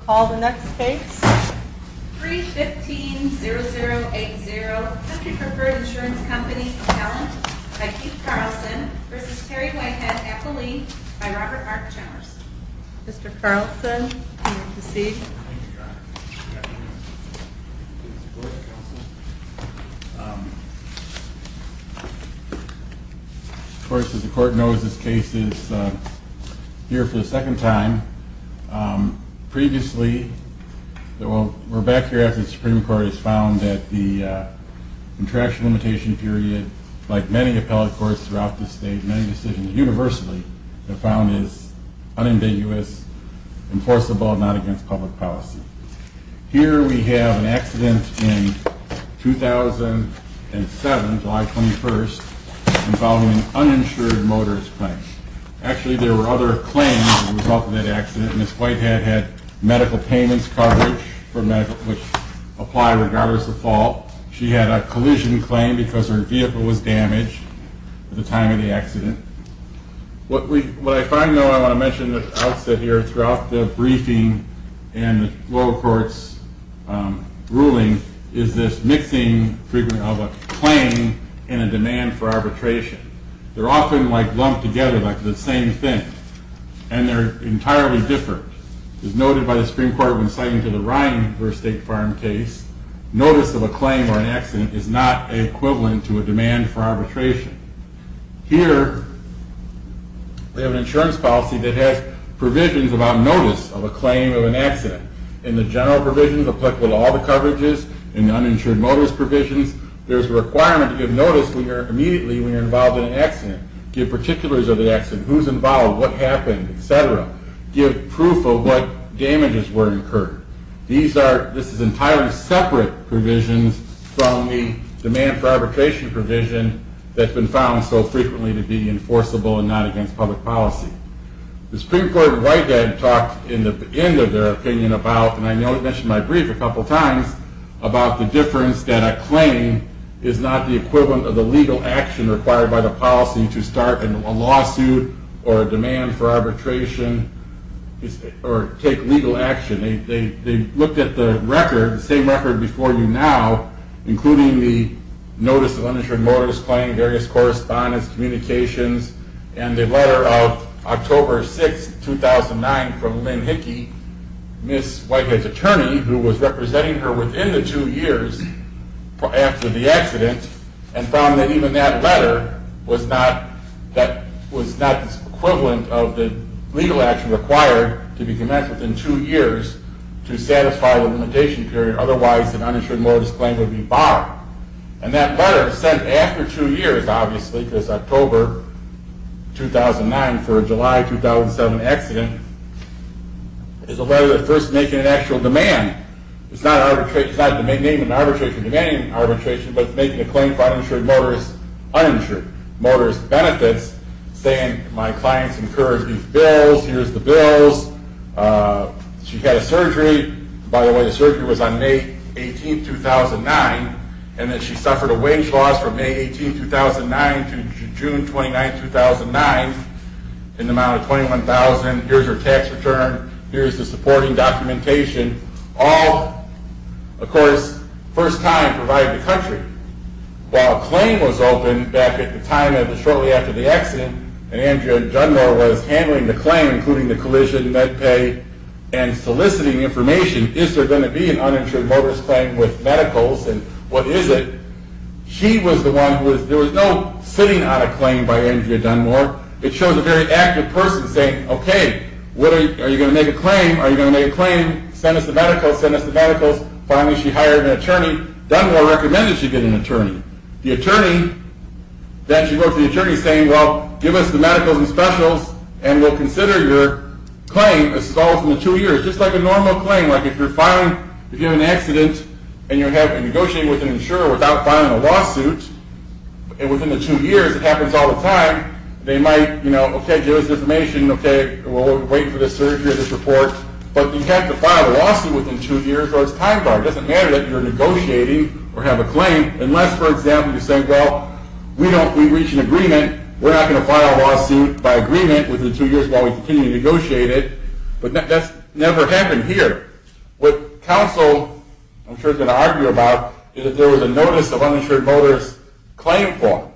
Call the next case. 3-15-0080 Country Preferred Insurance Company Appellant by Keith Carlson v. Terry Whitehead Appellee by Robert R. Chalmers Mr. Carlson, you may proceed. Thank you, Your Honor. Of course, as the Court knows, this case is here for the second time. Previously, we're back here after the Supreme Court has found that the contraction limitation period, like many appellate courts throughout the state, many decisions universally have found is unambiguous, enforceable, and not against public policy. Here we have an accident in 2007, July 21st, involving an uninsured motorist claim. Actually, there were other claims as a result of that accident. Ms. Whitehead had medical payments coverage, which apply regardless of fault. She had a collision claim because her vehicle was damaged at the time of the accident. What I find, though, I want to mention at the outset here, throughout the briefing and the lower court's ruling, is this mixing of a claim and a demand for arbitration. They're often lumped together like the same thing, and they're entirely different. As noted by the Supreme Court when citing the Ryan versus State Farm case, notice of a claim or an accident is not equivalent to a demand for arbitration. Here, we have an insurance policy that has provisions about notice of a claim of an accident. In the general provisions, applicable to all the coverages, in the uninsured motorist provisions, there's a requirement to give notice immediately when you're involved in an accident, give particulars of the accident, who's involved, what happened, etc. Give proof of what damages were incurred. This is entirely separate provisions from the demand for arbitration provision that's been found so frequently to be enforceable and not against public policy. The Supreme Court and Whitehead talked in the end of their opinion about, and I know I mentioned in my brief a couple times, about the difference that a claim is not the equivalent of the legal action required by the policy to start a lawsuit or a demand for arbitration or take legal action. They looked at the record, the same record before you now, including the notice of uninsured motorist claim, various correspondence, communications, and the letter of October 6, 2009 from Lynn Hickey, Ms. Whitehead's attorney, who was representing her within the two years after the accident, and found that even that letter was not the equivalent of the legal action required to be commenced within two years to satisfy the limitation period, otherwise an uninsured motorist claim would be barred. And that letter sent after two years, obviously, because October 2009 for a July 2007 accident, is a letter that's first making an actual demand. It's not demanding arbitration, but it's making a claim for uninsured motorist benefits, saying my clients incurred these bills, here's the bills. She had a surgery, by the way the surgery was on May 18, 2009, and that she suffered a wage loss from May 18, 2009 to June 29, 2009, in the amount of $21,000, here's her tax return, here's the supporting documentation. All, of course, first time provided to the country. While a claim was open back at the time, shortly after the accident, and Andrea Dunmore was handling the claim, including the collision, med pay, and soliciting information, is there going to be an uninsured motorist claim with medicals, and what is it? She was the one, there was no sitting on a claim by Andrea Dunmore, it shows a very active person saying, okay, are you going to make a claim, are you going to make a claim, send us the medicals, send us the medicals. Finally, she hired an attorney. Dunmore recommended she get an attorney. The attorney, then she wrote to the attorney saying, well, give us the medicals and specials, and we'll consider your claim as follows from the two years. Just like a normal claim, like if you're filing, if you have an accident, and you're negotiating with an insurer without filing a lawsuit, and within the two years, it happens all the time, they might, you know, okay, give us information, okay, we'll wait for this surgery or this report, but you have to file a lawsuit within two years or it's time barred. It doesn't matter that you're negotiating or have a claim unless, for example, you say, well, we don't, we've reached an agreement, we're not going to file a lawsuit by agreement within two years while we continue to negotiate it, but that's never happened here. What counsel, I'm sure, is going to argue about is that there was a notice of uninsured motorist claim form.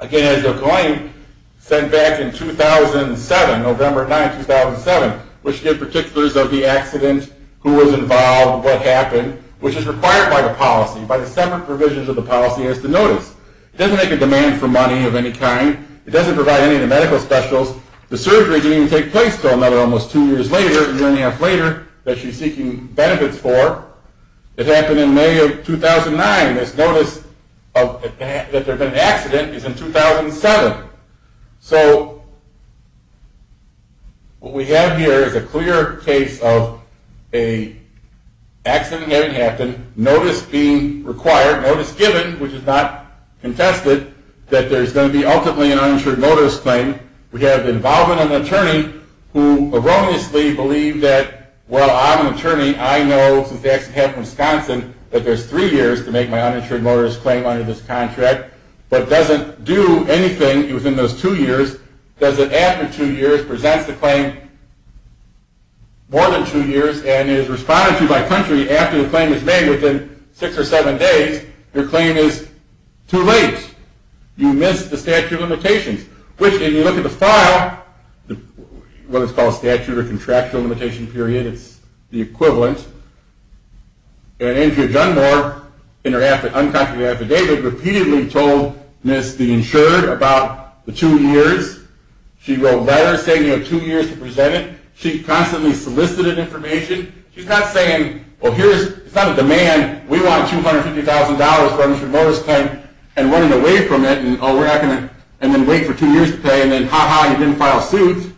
Again, as the claim sent back in 2007, November 9, 2007, which gave particulars of the accident, who was involved, what happened, which is required by the policy, by the separate provisions of the policy, is the notice. It doesn't make a demand for money of any kind. It doesn't provide any of the medical specials. The surgery didn't even take place until another almost two years later, a year and a half later, that she's seeking benefits for. It happened in May of 2009. This notice that there had been an accident is in 2007. So what we have here is a clear case of an accident having happened, notice being required, notice given, which is not contested, that there's going to be ultimately an uninsured motorist claim. We have involvement of an attorney who erroneously believed that, well, I'm an attorney, I know, since the accident happened in Wisconsin, that there's three years to make my uninsured motorist claim under this contract, but doesn't do anything within those two years. Does it, after two years, presents the claim more than two years and is responded to by country after the claim is made within six or seven days. Your claim is too late. You missed the statute of limitations, which, when you look at the file, whether it's called statute or contractual limitation period, it's the equivalent. And Andrea Dunmore, in her unconfirmed affidavit, repeatedly told Ms. Deenshurd about the two years. She wrote letters saying you have two years to present it. She constantly solicited information. She's not saying, well, here's, it's not a demand. We want $250,000 for a motorist claim and running away from it and, oh, we're not going to, and then wait for two years to pay and then, ha-ha, you didn't file suit.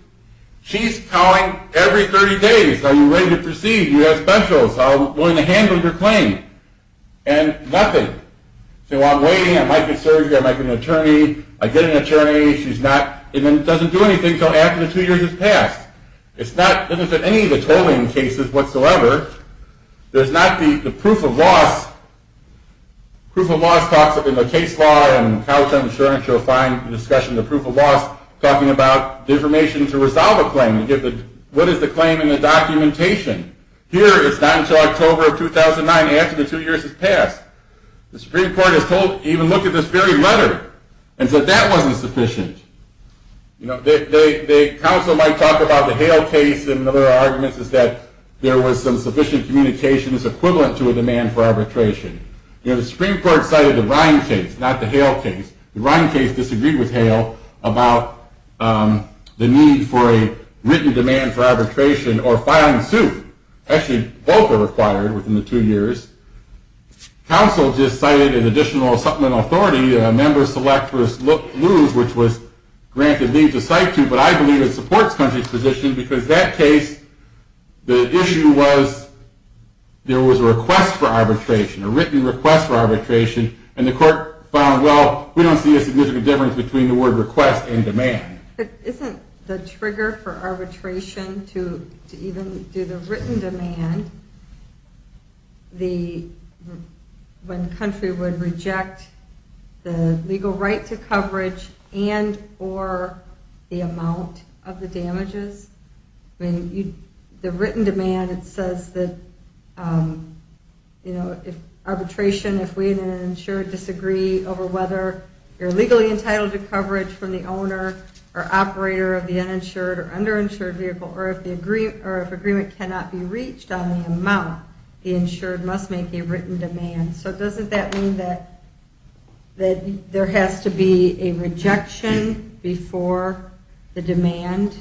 She's calling every 30 days. Are you ready to proceed? Do you have specials? Are you willing to handle your claim? And nothing. So I'm waiting. I might get surgery. I might get an attorney. I get an attorney. She's not, and then doesn't do anything until after the two years has passed. It's not, it doesn't fit any of the tolling cases whatsoever. There's not the proof of loss. Proof of loss talks in the case law and college insurance, you'll find the discussion of the proof of loss talking about the information to resolve a claim. What is the claim in the documentation? Here, it's not until October of 2009. After the two years has passed. The Supreme Court has told, even looked at this very letter and said that wasn't sufficient. You know, the council might talk about the Hale case and other arguments is that there was some sufficient communication that's equivalent to a demand for arbitration. You know, the Supreme Court cited the Ryan case, not the Hale case. The Ryan case disagreed with Hale about the need for a written demand for arbitration or filing suit. Actually, both are required within the two years. Council just cited an additional supplemental authority, a member-select for loose, which was granted leave to cite to, but I believe it supports country's position because that case, the issue was there was a request for arbitration, a written request for arbitration, and the court found, well, we don't see a significant difference between the word request and demand. Isn't the trigger for arbitration to even do the written demand, when country would reject the legal right to coverage and or the amount of the damages? I mean, the written demand, it says that, you know, if arbitration, if we in an insured disagree over whether you're legally entitled to coverage from the owner or operator of the uninsured or underinsured vehicle or if agreement cannot be reached on the amount, the insured must make a written demand. So doesn't that mean that there has to be a rejection before the demand?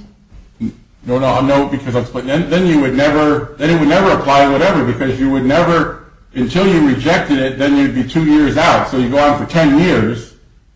No, no, no, because then you would never, then it would never apply to whatever because you would never, until you rejected it, then you'd be two years out. So you go on for 10 years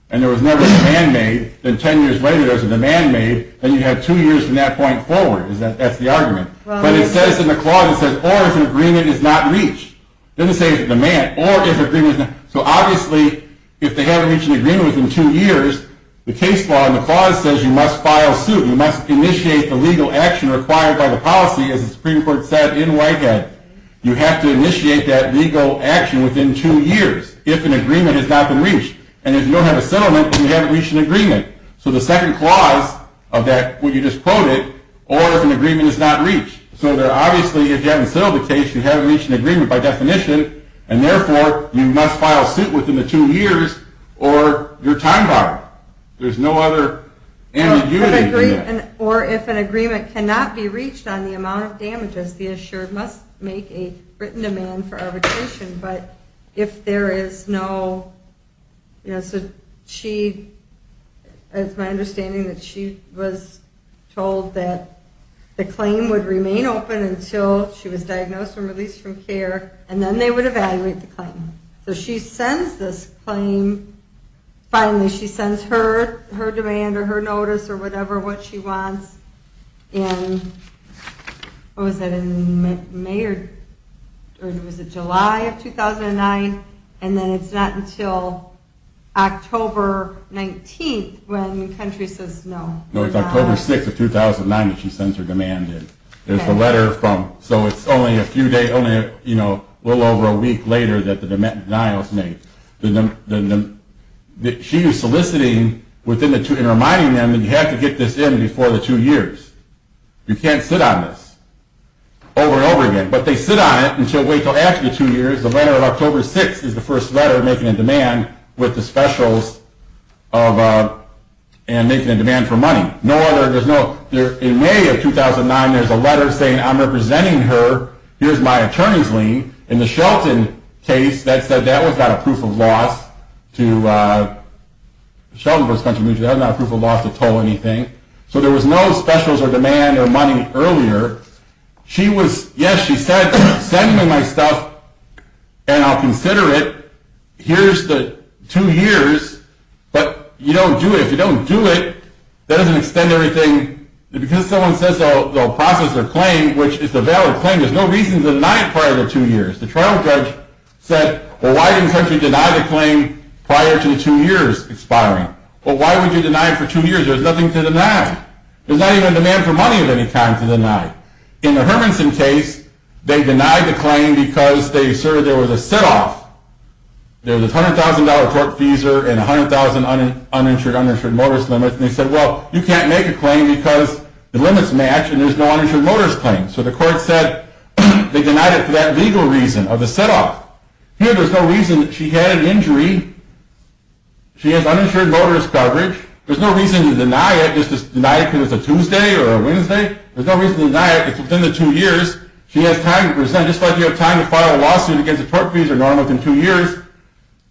and there was never a demand made, then 10 years later there's a demand made, then you have two years from that point forward. That's the argument. But it says in the clause, it says, or if an agreement is not reached. It doesn't say if it's a demand or if agreement is not. So obviously if they haven't reached an agreement within two years, the case law in the clause says you must file suit. You must initiate the legal action required by the policy, as the Supreme Court said in Whitehead. You have to initiate that legal action within two years if an agreement has not been reached. And if you don't have a settlement, then you haven't reached an agreement. So the second clause of that, what you just quoted, or if an agreement is not reached. So obviously if you haven't settled the case, you haven't reached an agreement by definition, and therefore you must file suit within the two years or you're time-barred. There's no other ambiguity to that. Or if an agreement cannot be reached on the amount of damages, the issuer must make a written demand for arbitration. But if there is no, you know, so she, it's my understanding that she was told that the claim would remain open until she was diagnosed and released from care, and then they would evaluate the claim. So she sends this claim, finally she sends her demand or her notice or whatever, what she wants, in, what was it, in May or, or was it July of 2009? And then it's not until October 19th when the country says no. No, it's October 6th of 2009 that she sends her demand in. There's a letter from, so it's only a few days, you know, a little over a week later that the denial is made. She is soliciting within the two, and reminding them that you have to get this in before the two years. You can't sit on this over and over again. But they sit on it until, wait until after the two years. The letter of October 6th is the first letter making a demand with the specials of, and making a demand for money. No other, there's no, in May of 2009 there's a letter saying I'm representing her, here's my attorney's lien. In the Shelton case that said that was not a proof of loss to, Shelton v. Country Mutual, that was not a proof of loss to toll anything. So there was no specials or demand or money earlier. She was, yes, she said, send me my stuff and I'll consider it. Here's the two years, but you don't do it. If you don't do it, that doesn't extend everything. Because someone says they'll process their claim, which is a valid claim, there's no reason to deny it prior to two years. The trial judge said, well, why didn't Shelton deny the claim prior to the two years expiring? Well, why would you deny it for two years? There's nothing to deny. There's not even a demand for money of any kind to deny. In the Hermanson case, they denied the claim because they asserted there was a sit-off. There was a $100,000 torque feeser and $100,000 uninsured, uninsured motorist limit. And they said, well, you can't make a claim because the limits match and there's no uninsured motorist claim. So the court said they denied it for that legal reason of a sit-off. Here, there's no reason that she had an injury. She has uninsured motorist coverage. There's no reason to deny it. It's just denied because it's a Tuesday or a Wednesday. There's no reason to deny it. It's within the two years. She has time to present, just like you have time to file a lawsuit against a torque feeser normally within two years.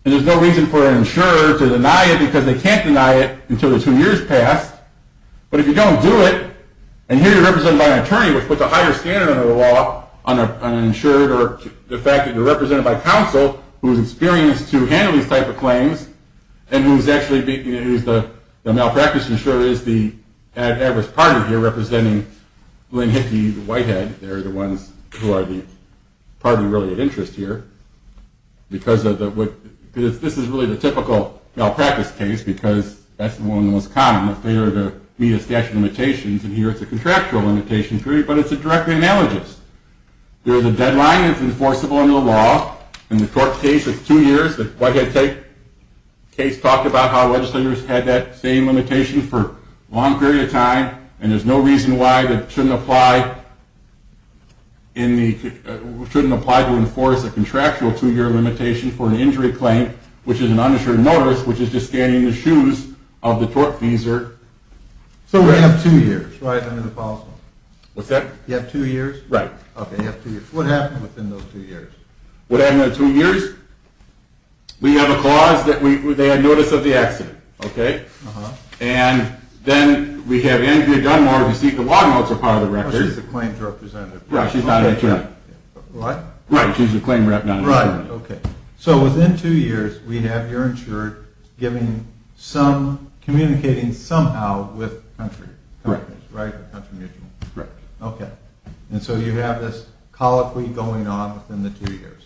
And there's no reason for an insurer to deny it because they can't deny it until the two years pass. But if you don't do it, and here you're represented by an attorney, which puts a higher standard under the law on an insured or the fact that you're represented by counsel who's experienced to handle these type of claims and who's actually the malpractice insurer is the adverse party here representing Lynn Hickey, the white head. They're the ones who are the party really of interest here because this is really the typical malpractice case because that's the one of the most common. If they were to meet a statute of limitations, and here it's a contractual limitation period, but it's a direct analogous. There's a deadline that's enforceable under the law. In the torque case, it's two years. The white head case talked about how legislators had that same limitation for a long period of time, and there's no reason why it shouldn't apply to enforce a contractual two-year limitation for an injury claim, which is an underserved notice, which is just scanning the shoes of the torque feeser. So we have two years, right, under the policy law? What's that? You have two years? Right. Okay, you have two years. What happened within those two years? What happened in those two years? We have a clause that they had notice of the accident, okay? Uh-huh. And then we have Andrea Dunmore, who you see at the log notes are part of the record. Oh, she's the claims representative. Yeah, she's not insured. What? Right, she's the claim rep, not insured. Right, okay. So within two years, we have you're insured communicating somehow with country companies, right? Right. Okay. And so you have this colloquy going on within the two years.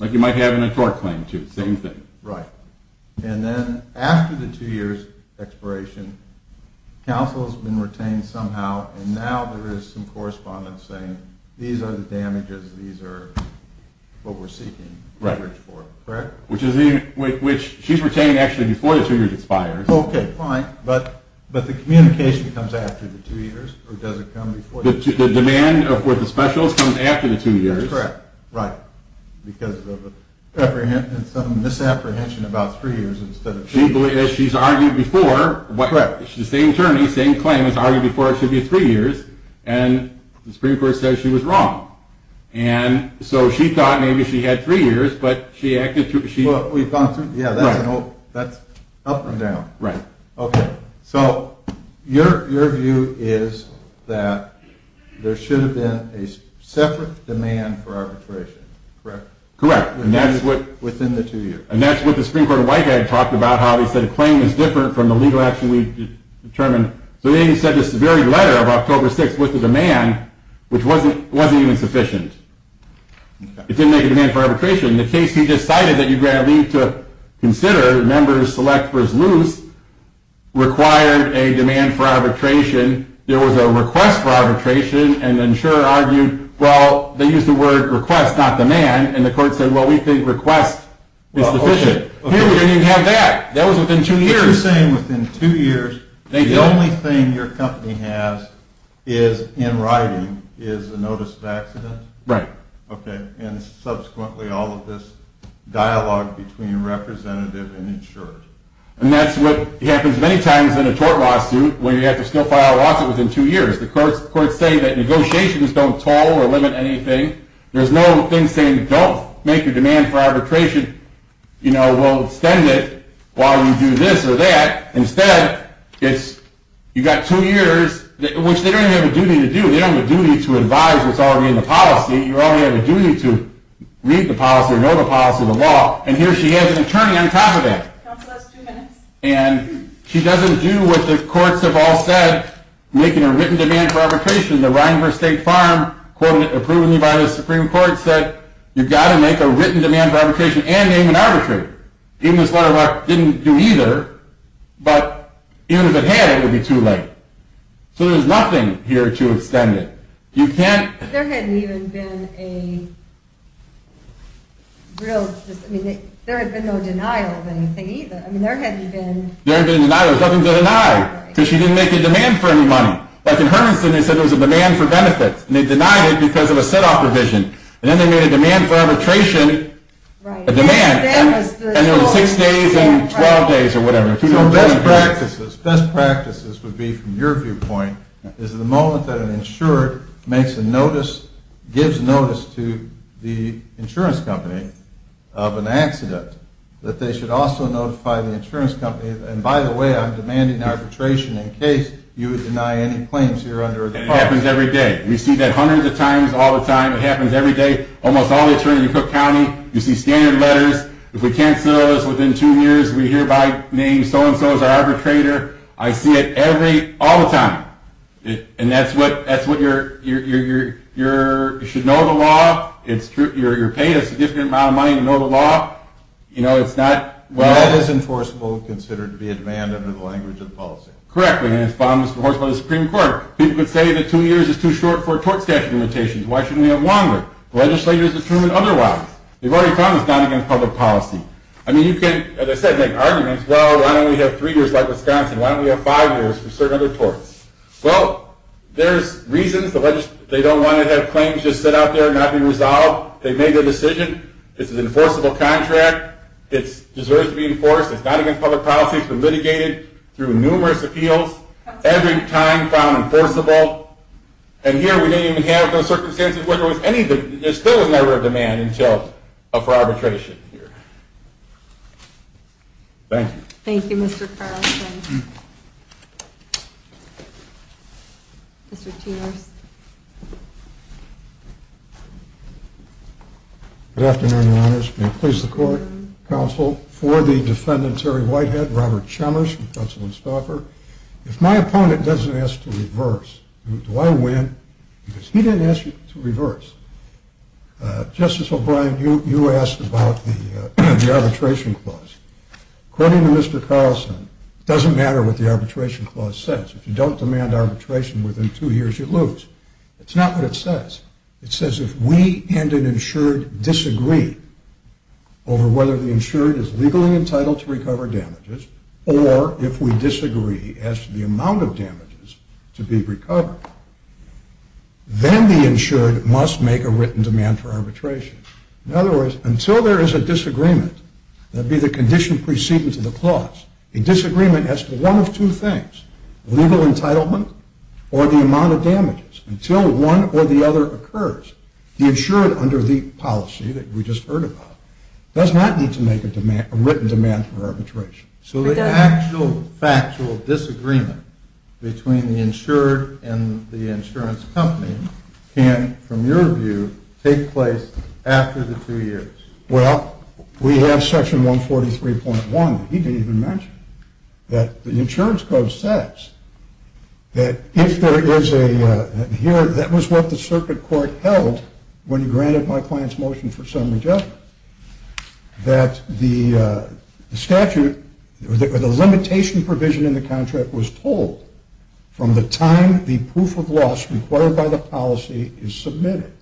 Like you might have in a torque claim, too. Same thing. Right. And then after the two years expiration, counsel has been retained somehow, and now there is some correspondence saying these are the damages, these are what we're seeking coverage for. Right. Correct? Which she's retained actually before the two years expires. Okay, fine. But the communication comes after the two years, or does it come before? The demand for the specials comes after the two years. That's correct. Right. Because of some misapprehension about three years instead of two years. She's argued before. Correct. The same attorney, same claim, has argued before it should be three years, and the Supreme Court says she was wrong. And so she thought maybe she had three years, but she acted through. Well, we've gone through. Yeah, that's up and down. Right. Okay. So your view is that there should have been a separate demand for arbitration, correct? Correct. Within the two years. And that's what the Supreme Court Whitehead talked about, how he said a claim is different from the legal action we've determined. So then he sent this very letter of October 6th with the demand, which wasn't even sufficient. It didn't make a demand for arbitration. In the case he just cited that you grant leave to consider, members select versus loose, required a demand for arbitration. There was a request for arbitration, and the insurer argued, well, they used the word request, not demand. And the court said, well, we think request is sufficient. Here we didn't even have that. That was within two years. But you're saying within two years the only thing your company has is, in writing, is a notice of accident? Right. And subsequently all of this dialogue between representative and insurer. And that's what happens many times in a tort lawsuit, where you have to still file a lawsuit within two years. The courts say that negotiations don't toll or limit anything. There's no thing saying don't make a demand for arbitration. We'll extend it while you do this or that. Instead, you've got two years, which they don't even have a duty to do. They don't have a duty to advise what's already in the policy. You only have a duty to read the policy or know the policy of the law. And here she is, an attorney on top of that. Counsel, that's two minutes. And she doesn't do what the courts have all said, making a written demand for arbitration. The Reinhart State Farm, approvingly by the Supreme Court, said you've got to make a written demand for arbitration and name an arbitrator. Even if this letter didn't do either, but even if it had, it would be too late. So there's nothing here to extend it. There hadn't even been a real – I mean, there had been no denial of anything either. I mean, there hadn't been – There hadn't been a denial. There was nothing to deny because she didn't make a demand for any money. Like in Hermiston, they said it was a demand for benefits, and they denied it because of a set-off provision. And then they made a demand for arbitration a demand. And it was six days and 12 days or whatever. So best practices would be, from your viewpoint, is the moment that an insurer makes a notice, gives notice to the insurance company of an accident, that they should also notify the insurance company, and by the way, I'm demanding arbitration in case you deny any claims here under a department. And it happens every day. We see that hundreds of times all the time. It happens every day. Almost all the attorneys in Cook County, you see standard letters. If we can't settle this within two years, we hereby name so-and-so as our arbitrator. I see it every, all the time. And that's what you're, you should know the law. You're paid a significant amount of money to know the law. You know, it's not, well. That is enforceable, considered to be a demand under the language of the policy. Correctly, and it's enforced by the Supreme Court. People could say that two years is too short for tort statute limitations. Why shouldn't we have longer? The legislature has determined otherwise. They've already found it's not against public policy. I mean, you can, as I said, make arguments. Well, why don't we have three years like Wisconsin? Why don't we have five years for certain other torts? Well, there's reasons the legislature, they don't want to have claims just sit out there and not be resolved. They've made their decision. It's an enforceable contract. It deserves to be enforced. It's not against public policy. It's been litigated through numerous appeals. Every time found enforceable. And here we don't even have those circumstances where there was anything. There's still never a demand until, for arbitration here. Thank you. Thank you, Mr. Carlson. Mr. Tierce. Good afternoon, Your Honors. May it please the Court, Counsel, for the Defendant Terry Whitehead, Robert Chalmers from Counsel and Stauffer. If my opponent doesn't ask to reverse, do I win? Because he didn't ask you to reverse. Justice O'Brien, you asked about the arbitration clause. According to Mr. Carlson, it doesn't matter what the arbitration clause says. If you don't demand arbitration within two years, you lose. It's not what it says. It says if we and an insured disagree over whether the insured is legally entitled to recover damages or if we disagree as to the amount of damages to be recovered, then the insured must make a written demand for arbitration. In other words, until there is a disagreement, that would be the condition preceding to the clause, a disagreement as to one of two things, legal entitlement or the amount of damages, until one or the other occurs, the insured under the policy that we just heard about does not need to make a written demand for arbitration. So the actual factual disagreement between the insured and the insurance company can, from your view, take place after the two years. Well, we have section 143.1 that he didn't even mention that the insurance code says that if there is a, here, that was what the circuit court held when he granted my client's motion for summary judgment, that the statute, or the limitation provision in the contract was told from the time the proof of loss required by the policy is submitted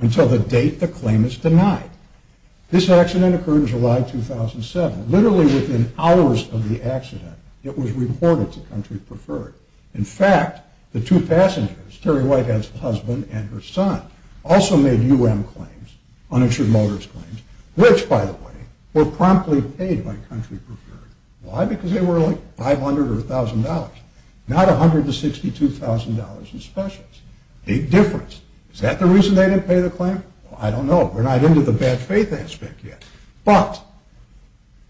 until the date the claim is denied. This accident occurred in July 2007. Literally within hours of the accident, it was reported to Country Preferred. In fact, the two passengers, Terry Whitehead's husband and her son, also made UM claims, uninsured motorist claims, which, by the way, were promptly paid by Country Preferred. Why? Because they were like $500 or $1,000, not $162,000 in specials. Big difference. Is that the reason they didn't pay the claim? I don't know. We're not into the bad faith aspect yet. But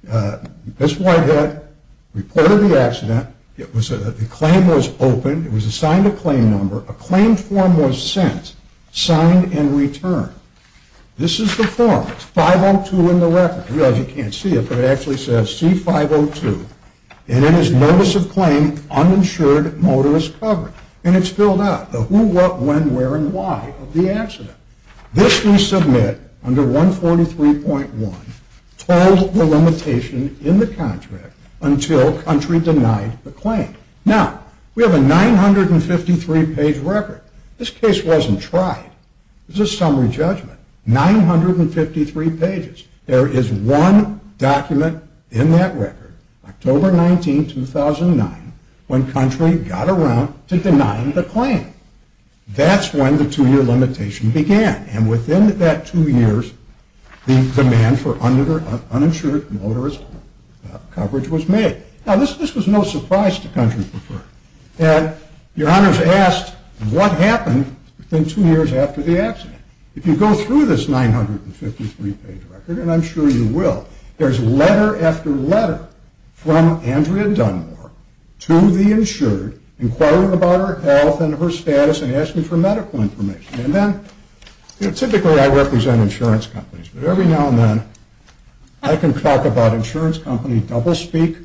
this Whitehead reported the accident. The claim was opened. It was assigned a claim number. A claim form was sent, signed, and returned. This is the form. It's 502 in the record. You realize you can't see it, but it actually says C502. And it is notice of claim, uninsured motorist covered. And it's filled out, the who, what, when, where, and why of the accident. This we submit under 143.1, told the limitation in the contract until Country denied the claim. Now, we have a 953-page record. This case wasn't tried. It was a summary judgment. 953 pages. There is one document in that record, October 19, 2009, when Country got around to denying the claim. That's when the two-year limitation began. And within that two years, the demand for uninsured motorist coverage was made. Now, this was no surprise to Country before. And your honors asked what happened within two years after the accident. If you go through this 953-page record, and I'm sure you will, there's letter after letter from Andrea Dunmore to the insured inquiring about her health and her status and asking for medical information. And then, you know, typically I represent insurance companies, but every now and then I can talk about insurance companies, double speak.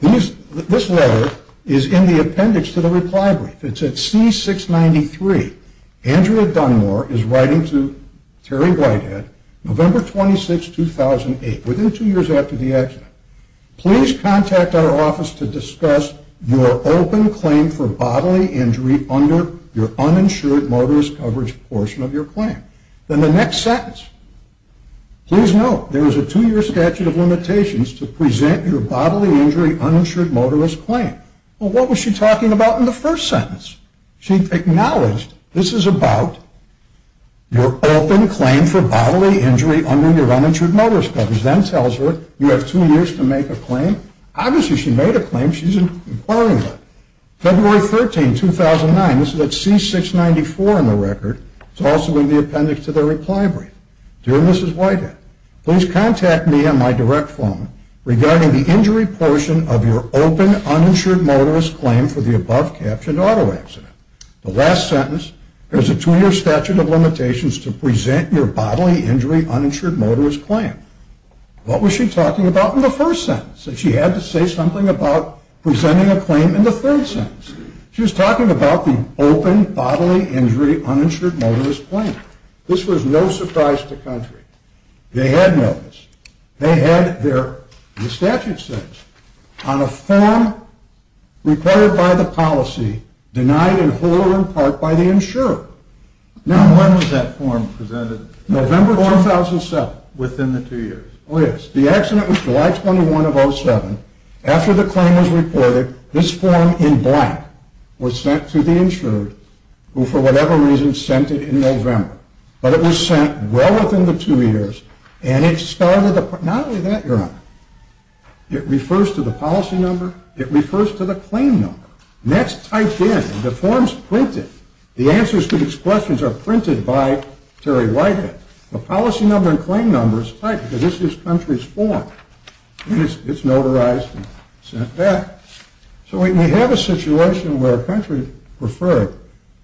This letter is in the appendix to the reply brief. It's at C693. Andrea Dunmore is writing to Terry Whitehead, November 26, 2008, within two years after the accident. Please contact our office to discuss your open claim for bodily injury under your uninsured motorist coverage portion of your claim. Then the next sentence, please note there is a two-year statute of limitations to present your bodily injury uninsured motorist claim. Well, what was she talking about in the first sentence? She acknowledged this is about your open claim for bodily injury under your uninsured motorist coverage. Then tells her you have two years to make a claim. Obviously, she made a claim. She's inquiring about it. February 13, 2009, this is at C694 in the record. It's also in the appendix to the reply brief. Dear Mrs. Whitehead, please contact me on my direct phone regarding the injury portion of your open uninsured motorist claim for the above-captured auto accident. The last sentence, there's a two-year statute of limitations to present your bodily injury uninsured motorist claim. What was she talking about in the first sentence? She had to say something about presenting a claim in the third sentence. She was talking about the open bodily injury uninsured motorist claim. This was no surprise to the country. They had noticed. They had their statute sentence on a form reported by the policy, denied in whole or in part by the insurer. When was that form presented? November 2007. Within the two years? Oh, yes. The accident was July 21 of 2007. After the claim was reported, this form in blank was sent to the insured, who for whatever reason sent it in November. But it was sent well within the two years. And it started not only that, Your Honor. It refers to the policy number. It refers to the claim number. And that's typed in. The form's printed. The answers to these questions are printed by Terry Whitehead. The policy number and claim number is typed because this is this country's form. It's notarized and sent back. So we have a situation where a country referred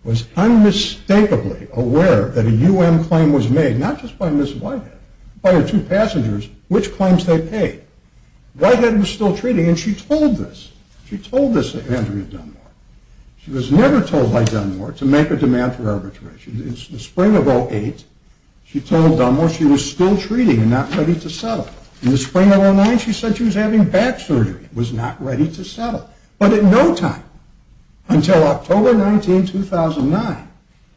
was unmistakably aware that a UM claim was made, not just by Ms. Whitehead, by her two passengers, which claims they paid. Whitehead was still treating, and she told this. She told this to Andrea Dunmore. She was never told by Dunmore to make a demand for arbitration. In the spring of 08, she told Dunmore she was still treating and not ready to settle. In the spring of 09, she said she was having back surgery and was not ready to settle. But in no time until October 19, 2009,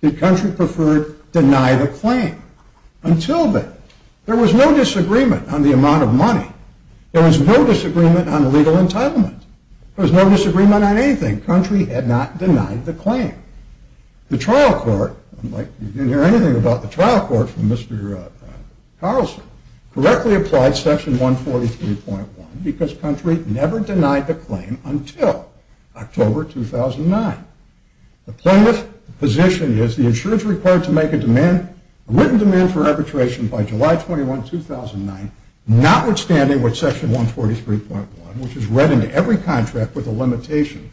the country preferred deny the claim. Until then, there was no disagreement on the amount of money. There was no disagreement on legal entitlement. There was no disagreement on anything. The country had not denied the claim. The trial court, you didn't hear anything about the trial court from Mr. Carlson, correctly applied Section 143.1 because the country never denied the claim until October 2009. The plaintiff's position is the insurance required to make a written demand for arbitration by July 21, 2009, notwithstanding what Section 143.1, which is read in every contract of insurance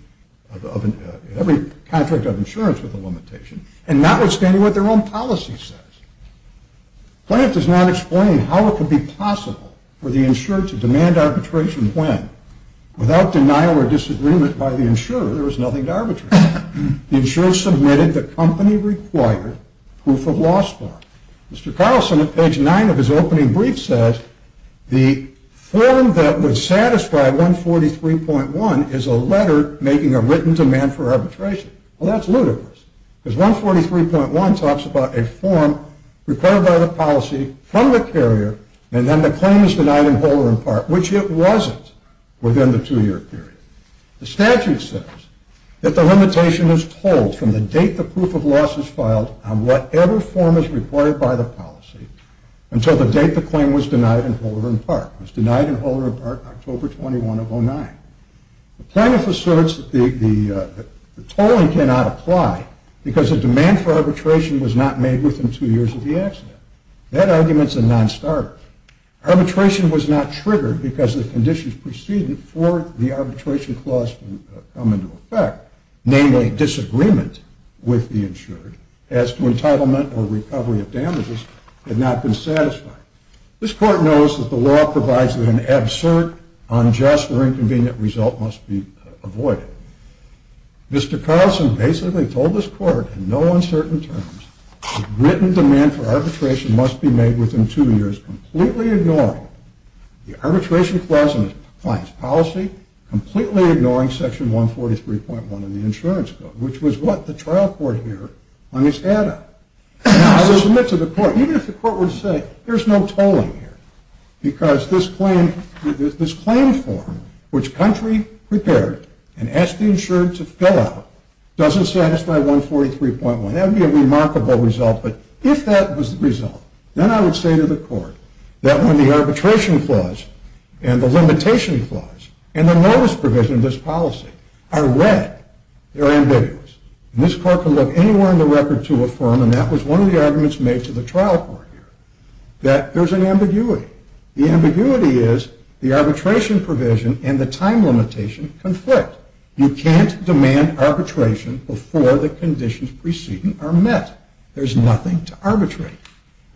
with a limitation, and notwithstanding what their own policy says. The plaintiff does not explain how it could be possible for the insurer to demand arbitration when, without denial or disagreement by the insurer, there was nothing to arbitrate on. The insurer submitted the company-required proof of loss form. Mr. Carlson, on page 9 of his opening brief, says, the form that would satisfy 143.1 is a letter making a written demand for arbitration. Well, that's ludicrous because 143.1 talks about a form required by the policy from the carrier and then the claim is denied in whole or in part, which it wasn't within the two-year period. The statute says that the limitation is told from the date the proof of loss is filed on whatever form is required by the policy until the date the claim was denied in whole or in part. It was denied in whole or in part October 21 of 2009. The plaintiff asserts that the tolling cannot apply because the demand for arbitration was not made within two years of the accident. That argument is a non-starter. Arbitration was not triggered because the conditions preceding for the arbitration clause to come into effect, namely disagreement with the insurer as to entitlement or recovery of damages, had not been satisfied. This court knows that the law provides that an absurd, unjust, or inconvenient result must be avoided. Mr. Carlson basically told this court in no uncertain terms that written demand for arbitration must be made within two years, completely ignoring the arbitration clause in the client's policy, completely ignoring section 143.1 in the insurance code, which was what the trial court here hung its hat on. I would submit to the court, even if the court would say there's no tolling here, because this claim form which country prepared and asked the insurer to fill out doesn't satisfy 143.1. That would be a remarkable result, but if that was the result, then I would say to the court that when the arbitration clause and the limitation clause and the notice provision of this policy are read, they're ambiguous. And this court can look anywhere in the record to affirm, and that was one of the arguments made to the trial court here, that there's an ambiguity. The ambiguity is the arbitration provision and the time limitation conflict. You can't demand arbitration before the conditions preceding are met. There's nothing to arbitrate.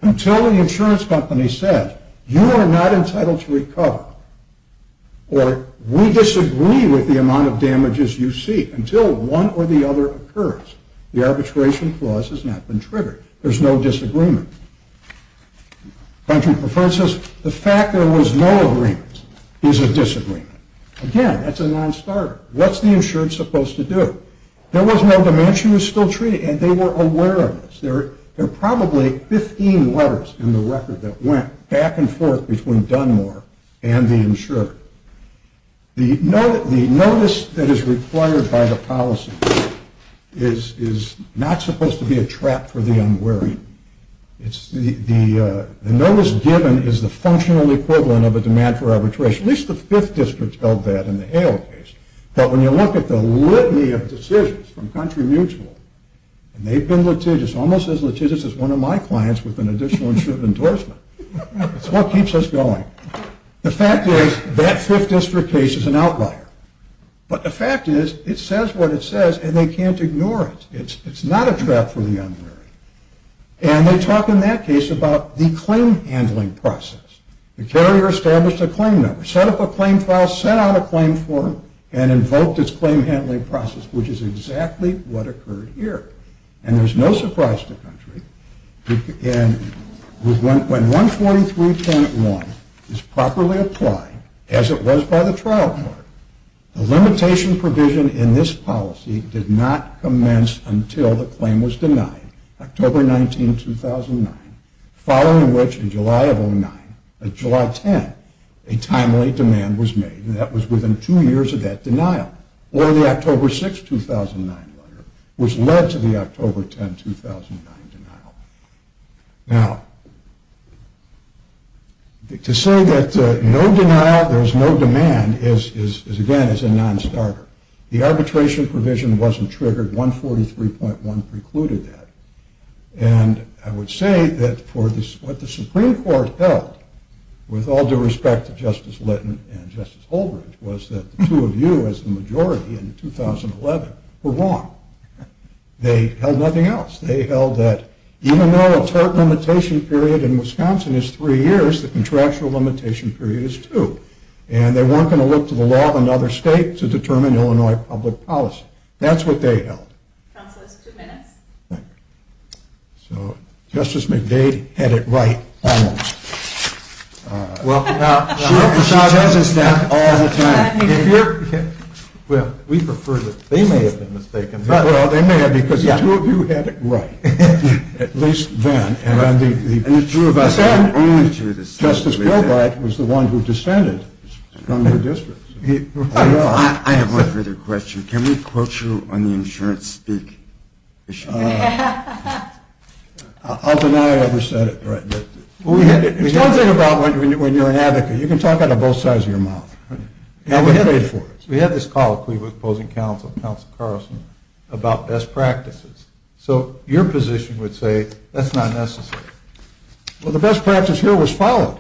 Until the insurance company says, you are not entitled to recover, or we disagree with the amount of damages you seek, until one or the other occurs, the arbitration clause has not been triggered. There's no disagreement. Country preferred says, the fact there was no agreement is a disagreement. Again, that's a nonstarter. What's the insurer supposed to do? There was no dimension was still treated, and they were aware of this. There are probably 15 letters in the record that went back and forth between Dunmore and the insurer. The notice that is required by the policy is not supposed to be a trap for the unwary. The notice given is the functional equivalent of a demand for arbitration. At least the Fifth District held that in the Hale case. But when you look at the litany of decisions from Country Mutual, and they've been litigious, almost as litigious as one of my clients with an additional insurance endorsement. It's what keeps us going. The fact is, that Fifth District case is an outlier. But the fact is, it says what it says, and they can't ignore it. It's not a trap for the unwary. And they talk in that case about the claim handling process. The carrier established a claim number, set up a claim file, set out a claim form, and invoked its claim handling process, which is exactly what occurred here. And there's no surprise to Country. When 143-10-1 is properly applied, as it was by the trial court, the limitation provision in this policy did not commence until the claim was denied, October 19, 2009. Following which, in July 10, a timely demand was made. And that was within two years of that denial. Or the October 6, 2009 letter, which led to the October 10, 2009 denial. Now, to say that no denial, there's no demand, again, is a non-starter. The arbitration provision wasn't triggered. 143.1 precluded that. And I would say that what the Supreme Court held, with all due respect to Justice Litton and Justice Holdren, was that the two of you, as the majority in 2011, were wrong. They held nothing else. They held that even though a tort limitation period in Wisconsin is three years, the contractual limitation period is two. And they weren't going to look to the law of another state to determine Illinois public policy. That's what they held. Counselors, two minutes. Thank you. So Justice McDade had it right almost. She tells us that all the time. Well, we prefer that they may have been mistaken. Well, they may have, because the two of you had it right, at least then. And it's true of us all. Justice Kilbride was the one who dissented from the district. I have one further question. Can we quote you on the insurance speak issue? I'll deny I ever said it, but it's one thing about when you're an advocate. You can talk out of both sides of your mouth. We had this call that we were opposing counsel, Counsel Carlson, about best practices. So your position would say that's not necessary. Well, the best practice here was followed.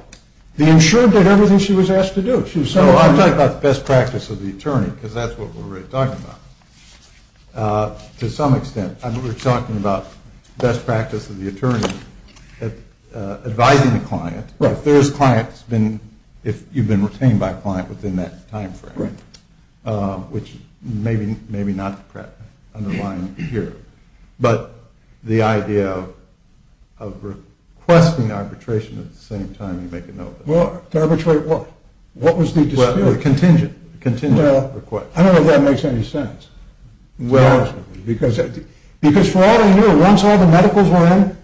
The insured did everything she was asked to do. So I'm talking about the best practice of the attorney, because that's what we're really talking about. To some extent, we're talking about best practice of the attorney advising the client. If you've been retained by a client within that time frame, which maybe not underlined here. But the idea of requesting arbitration at the same time you make a note of it. Well, to arbitrate what? What was the dispute? Well, the contingent request. I don't know if that makes any sense. Well, it doesn't. Because for all I knew, once all the medicals were in,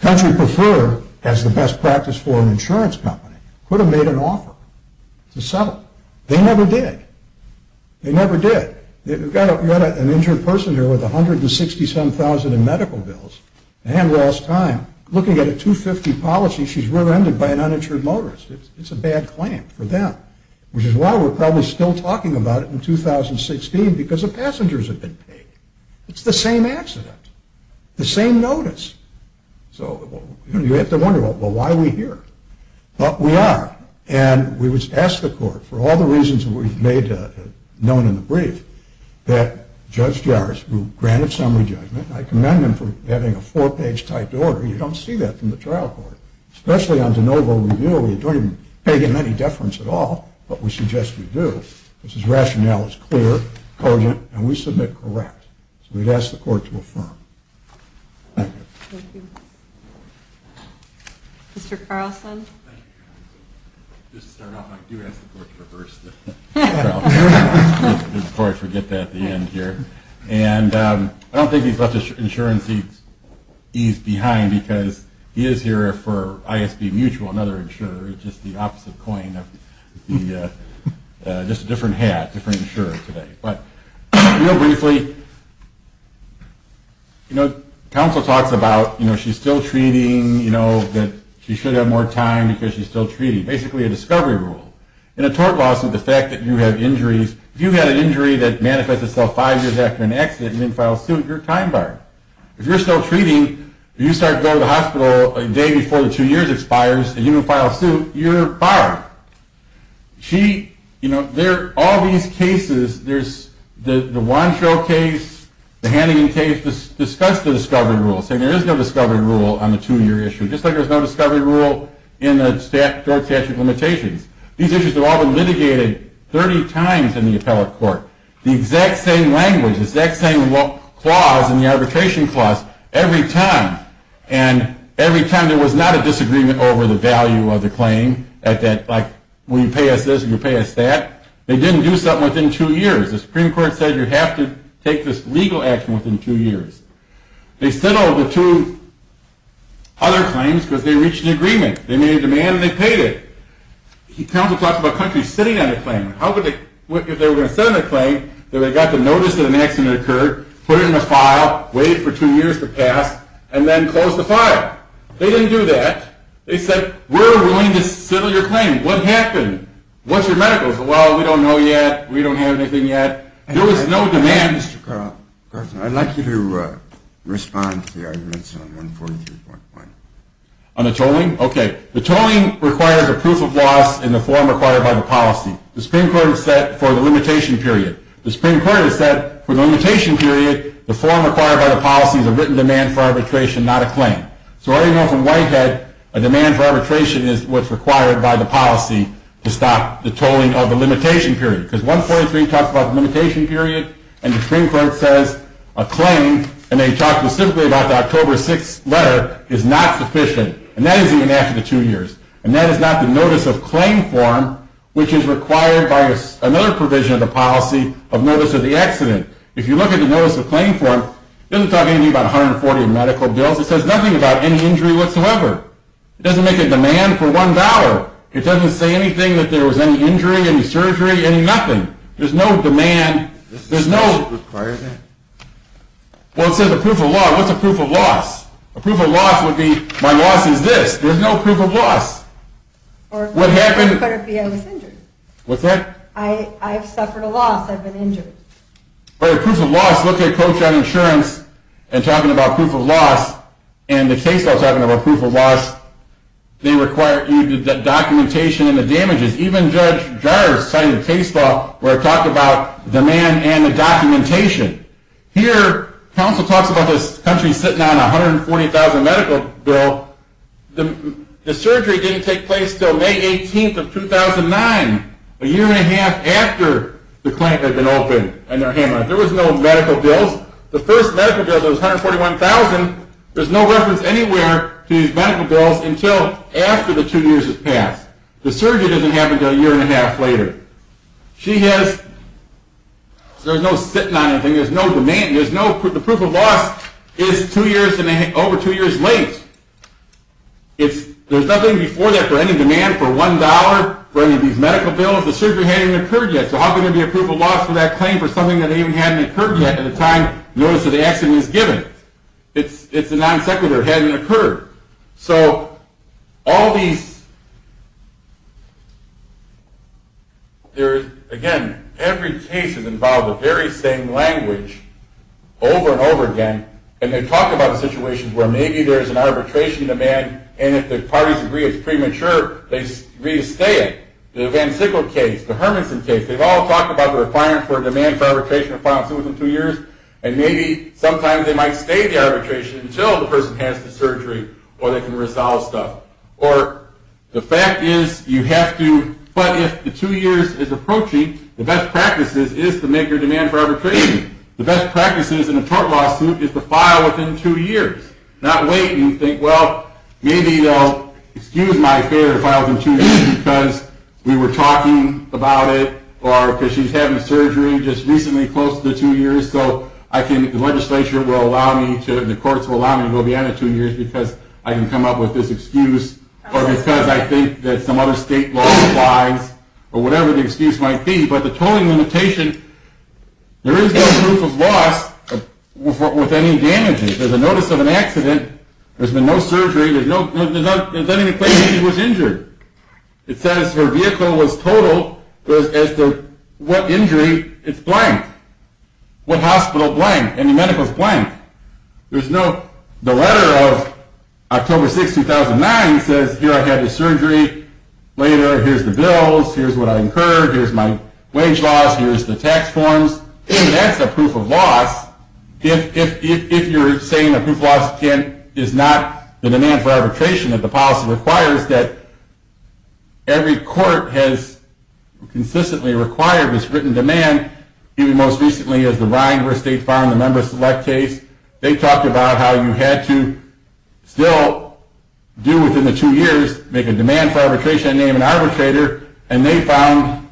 Country Prefer, as the best practice for an insurance company, could have made an offer to settle. They never did. They never did. You've got an injured person here with $167,000 in medical bills and lost time. Looking at a $250,000 policy, she's rear-ended by an uninsured motorist. It's a bad claim for them. Which is why we're probably still talking about it in 2016, because the passengers have been paid. It's the same accident. The same notice. So you have to wonder, well, why are we here? But we are. And we asked the court, for all the reasons we've made known in the brief, that Judge Jarris, who granted summary judgment, I commend him for having a four-page typed order. You don't see that from the trial court, especially on de novo review, where you don't even pay him any deference at all. But we suggest we do, because his rationale is clear, cogent, and we submit correct. So we'd ask the court to affirm. Thank you. Thank you. Mr. Carlson? Thank you, counsel. Just to start off, I do ask the court to reverse the trial. Before I forget that at the end here. And I don't think he's left his insuranceese behind, because he is here for ISB Mutual, another insurer. It's just the opposite coin of the – just a different hat, different insurer today. But real briefly, you know, counsel talks about, you know, she's still treating, you know, that she should have more time because she's still treating. Basically a discovery rule. In a tort lawsuit, the fact that you have injuries, if you've had an injury that manifests itself five years after an accident and you didn't file a suit, you're time barred. If you're still treating, you start going to the hospital a day before the two years expires and you didn't file a suit, you're barred. She, you know, there are all these cases. There's the Wancho case, the Hannigan case, discuss the discovery rule, saying there is no discovery rule on the two-year issue, just like there's no discovery rule in the tort statute limitations. These issues have all been litigated 30 times in the appellate court. The exact same language, the exact same clause in the arbitration clause every time. And every time there was not a disagreement over the value of the claim, like when you pay us this and you pay us that. They didn't do something within two years. The Supreme Court said you have to take this legal action within two years. They settled the two other claims because they reached an agreement. They made a demand and they paid it. The counsel talked about countries sitting on the claim. If they were going to sit on the claim, they would have got the notice that an accident occurred, put it in a file, wait for two years to pass, and then close the file. They didn't do that. They said we're willing to settle your claim. What happened? What's your medical? Well, we don't know yet. We don't have anything yet. There was no demand. Mr. Carlson, I'd like you to respond to the arguments on 143.1. On the tolling? Okay. The tolling requires a proof of loss in the form required by the policy. The Supreme Court has said for the limitation period. The Supreme Court has said for the limitation period, the form required by the policy is a written demand for arbitration, not a claim. So we already know from Whitehead, a demand for arbitration is what's required by the policy to stop the tolling of the limitation period. Because 143 talks about the limitation period and the Supreme Court says a claim, and they talk specifically about the October 6th letter, is not sufficient. And that is even after the two years. And that is not the notice of claim form, which is required by another provision of the policy of notice of the accident. If you look at the notice of claim form, it doesn't talk anything about 140 medical bills. It says nothing about any injury whatsoever. It doesn't make a demand for one dollar. It doesn't say anything that there was any injury, any surgery, any nothing. There's no demand. It doesn't require that. Well, it says a proof of law. What's a proof of loss? A proof of loss would be my loss is this. There's no proof of loss. Or it could be I was injured. What's that? I've suffered a loss. I've been injured. But a proof of loss, look at Coach on Insurance and talking about proof of loss, and the case law is talking about proof of loss. They require the documentation and the damages. Even Judge Jars signed a case law where it talked about demand and the documentation. Here, counsel talks about this country sitting on a 140,000 medical bill. The surgery didn't take place until May 18th of 2009, a year and a half after the clinic had been opened and they're handling it. There was no medical bills. The first medical bill that was 141,000, there's no reference anywhere to these medical bills until after the two years have passed. The surgery doesn't happen until a year and a half later. There's no sitting on anything. There's no demand. The proof of loss is over two years late. There's nothing before that for any demand for $1 for any of these medical bills. The surgery hadn't even occurred yet, so how can there be a proof of loss for that claim for something that even hadn't occurred yet at the time notice of the accident was given? It's a non sequitur. It hadn't occurred. So all these, there's, again, every case has involved the very same language over and over again, and they talk about situations where maybe there's an arbitration demand and if the parties agree it's premature, they agree to stay it. The Van Sickle case, the Hermanson case, they've all talked about the requirement for a demand for arbitration, a final suit within two years, and maybe sometimes they might stay the arbitration until the person has the surgery or they can resolve stuff. Or the fact is you have to, but if the two years is approaching, the best practices is to make your demand for arbitration. The best practices in a court lawsuit is to file within two years, not wait and think, well, maybe they'll excuse my affair to file within two years because we were talking about it or because she's having surgery just recently close to two years, so I can, the legislature will allow me to, the courts will allow me to go beyond the two years because I can come up with this excuse or because I think that some other state law applies or whatever the excuse might be. But the tolling limitation, there is no proof of loss with any damages. There's a notice of an accident, there's been no surgery, there's no, there's not, there's not even a claim that she was injured. It says her vehicle was totaled as to what injury, it's blank. What hospital, blank. Any medicals, blank. There's no, the letter of October 6, 2009 says here I had the surgery, later here's the bills, here's what I incurred, here's my wage loss, here's the tax forms. That's a proof of loss. If you're saying a proof of loss is not the demand for arbitration that the policy requires, that every court has consistently required this written demand, even most recently as the Rhine versus State Farm, the member select case, they talked about how you had to still do within the two years, make a demand for arbitration, name an arbitrator, and they found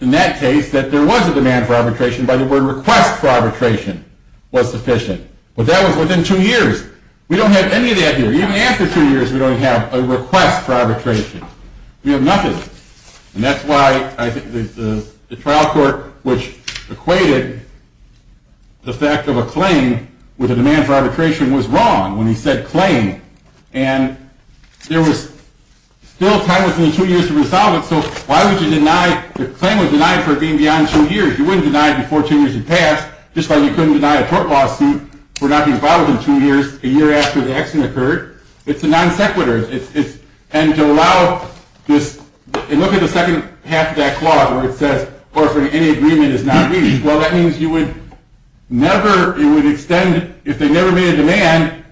in that case that there was a demand for arbitration by the word request for arbitration was sufficient. But that was within two years. We don't have any of that here. Even after two years we don't have a request for arbitration. We have nothing. And that's why I think the trial court, which equated the fact of a claim with a demand for arbitration, was wrong when he said claim. And there was still time within two years to resolve it, so why would you deny, the claim was denied for being beyond two years. You wouldn't deny it before two years had passed, just like you couldn't deny a court lawsuit for not being filed within two years a year after the accident occurred. It's a non sequitur. And to allow this, and look at the second half of that clause where it says, or for any agreement is not reached, well that means you would never, you would extend, if they never made a demand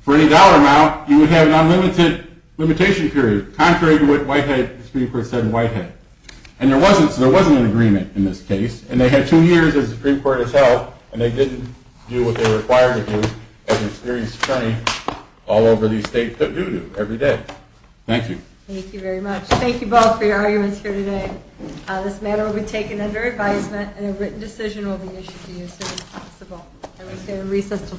for any dollar amount, you would have an unlimited limitation period, contrary to what the Supreme Court said in Whitehead. And there wasn't, so there wasn't an agreement in this case, and they had two years as the Supreme Court itself, and they didn't do what they were required to do, as an experienced attorney, all over these states that do do, every day. Thank you. Thank you very much. Thank you both for your arguments here today. This matter will be taken under advisement, and a written decision will be issued to you as soon as possible. And we say a recess until tomorrow morning.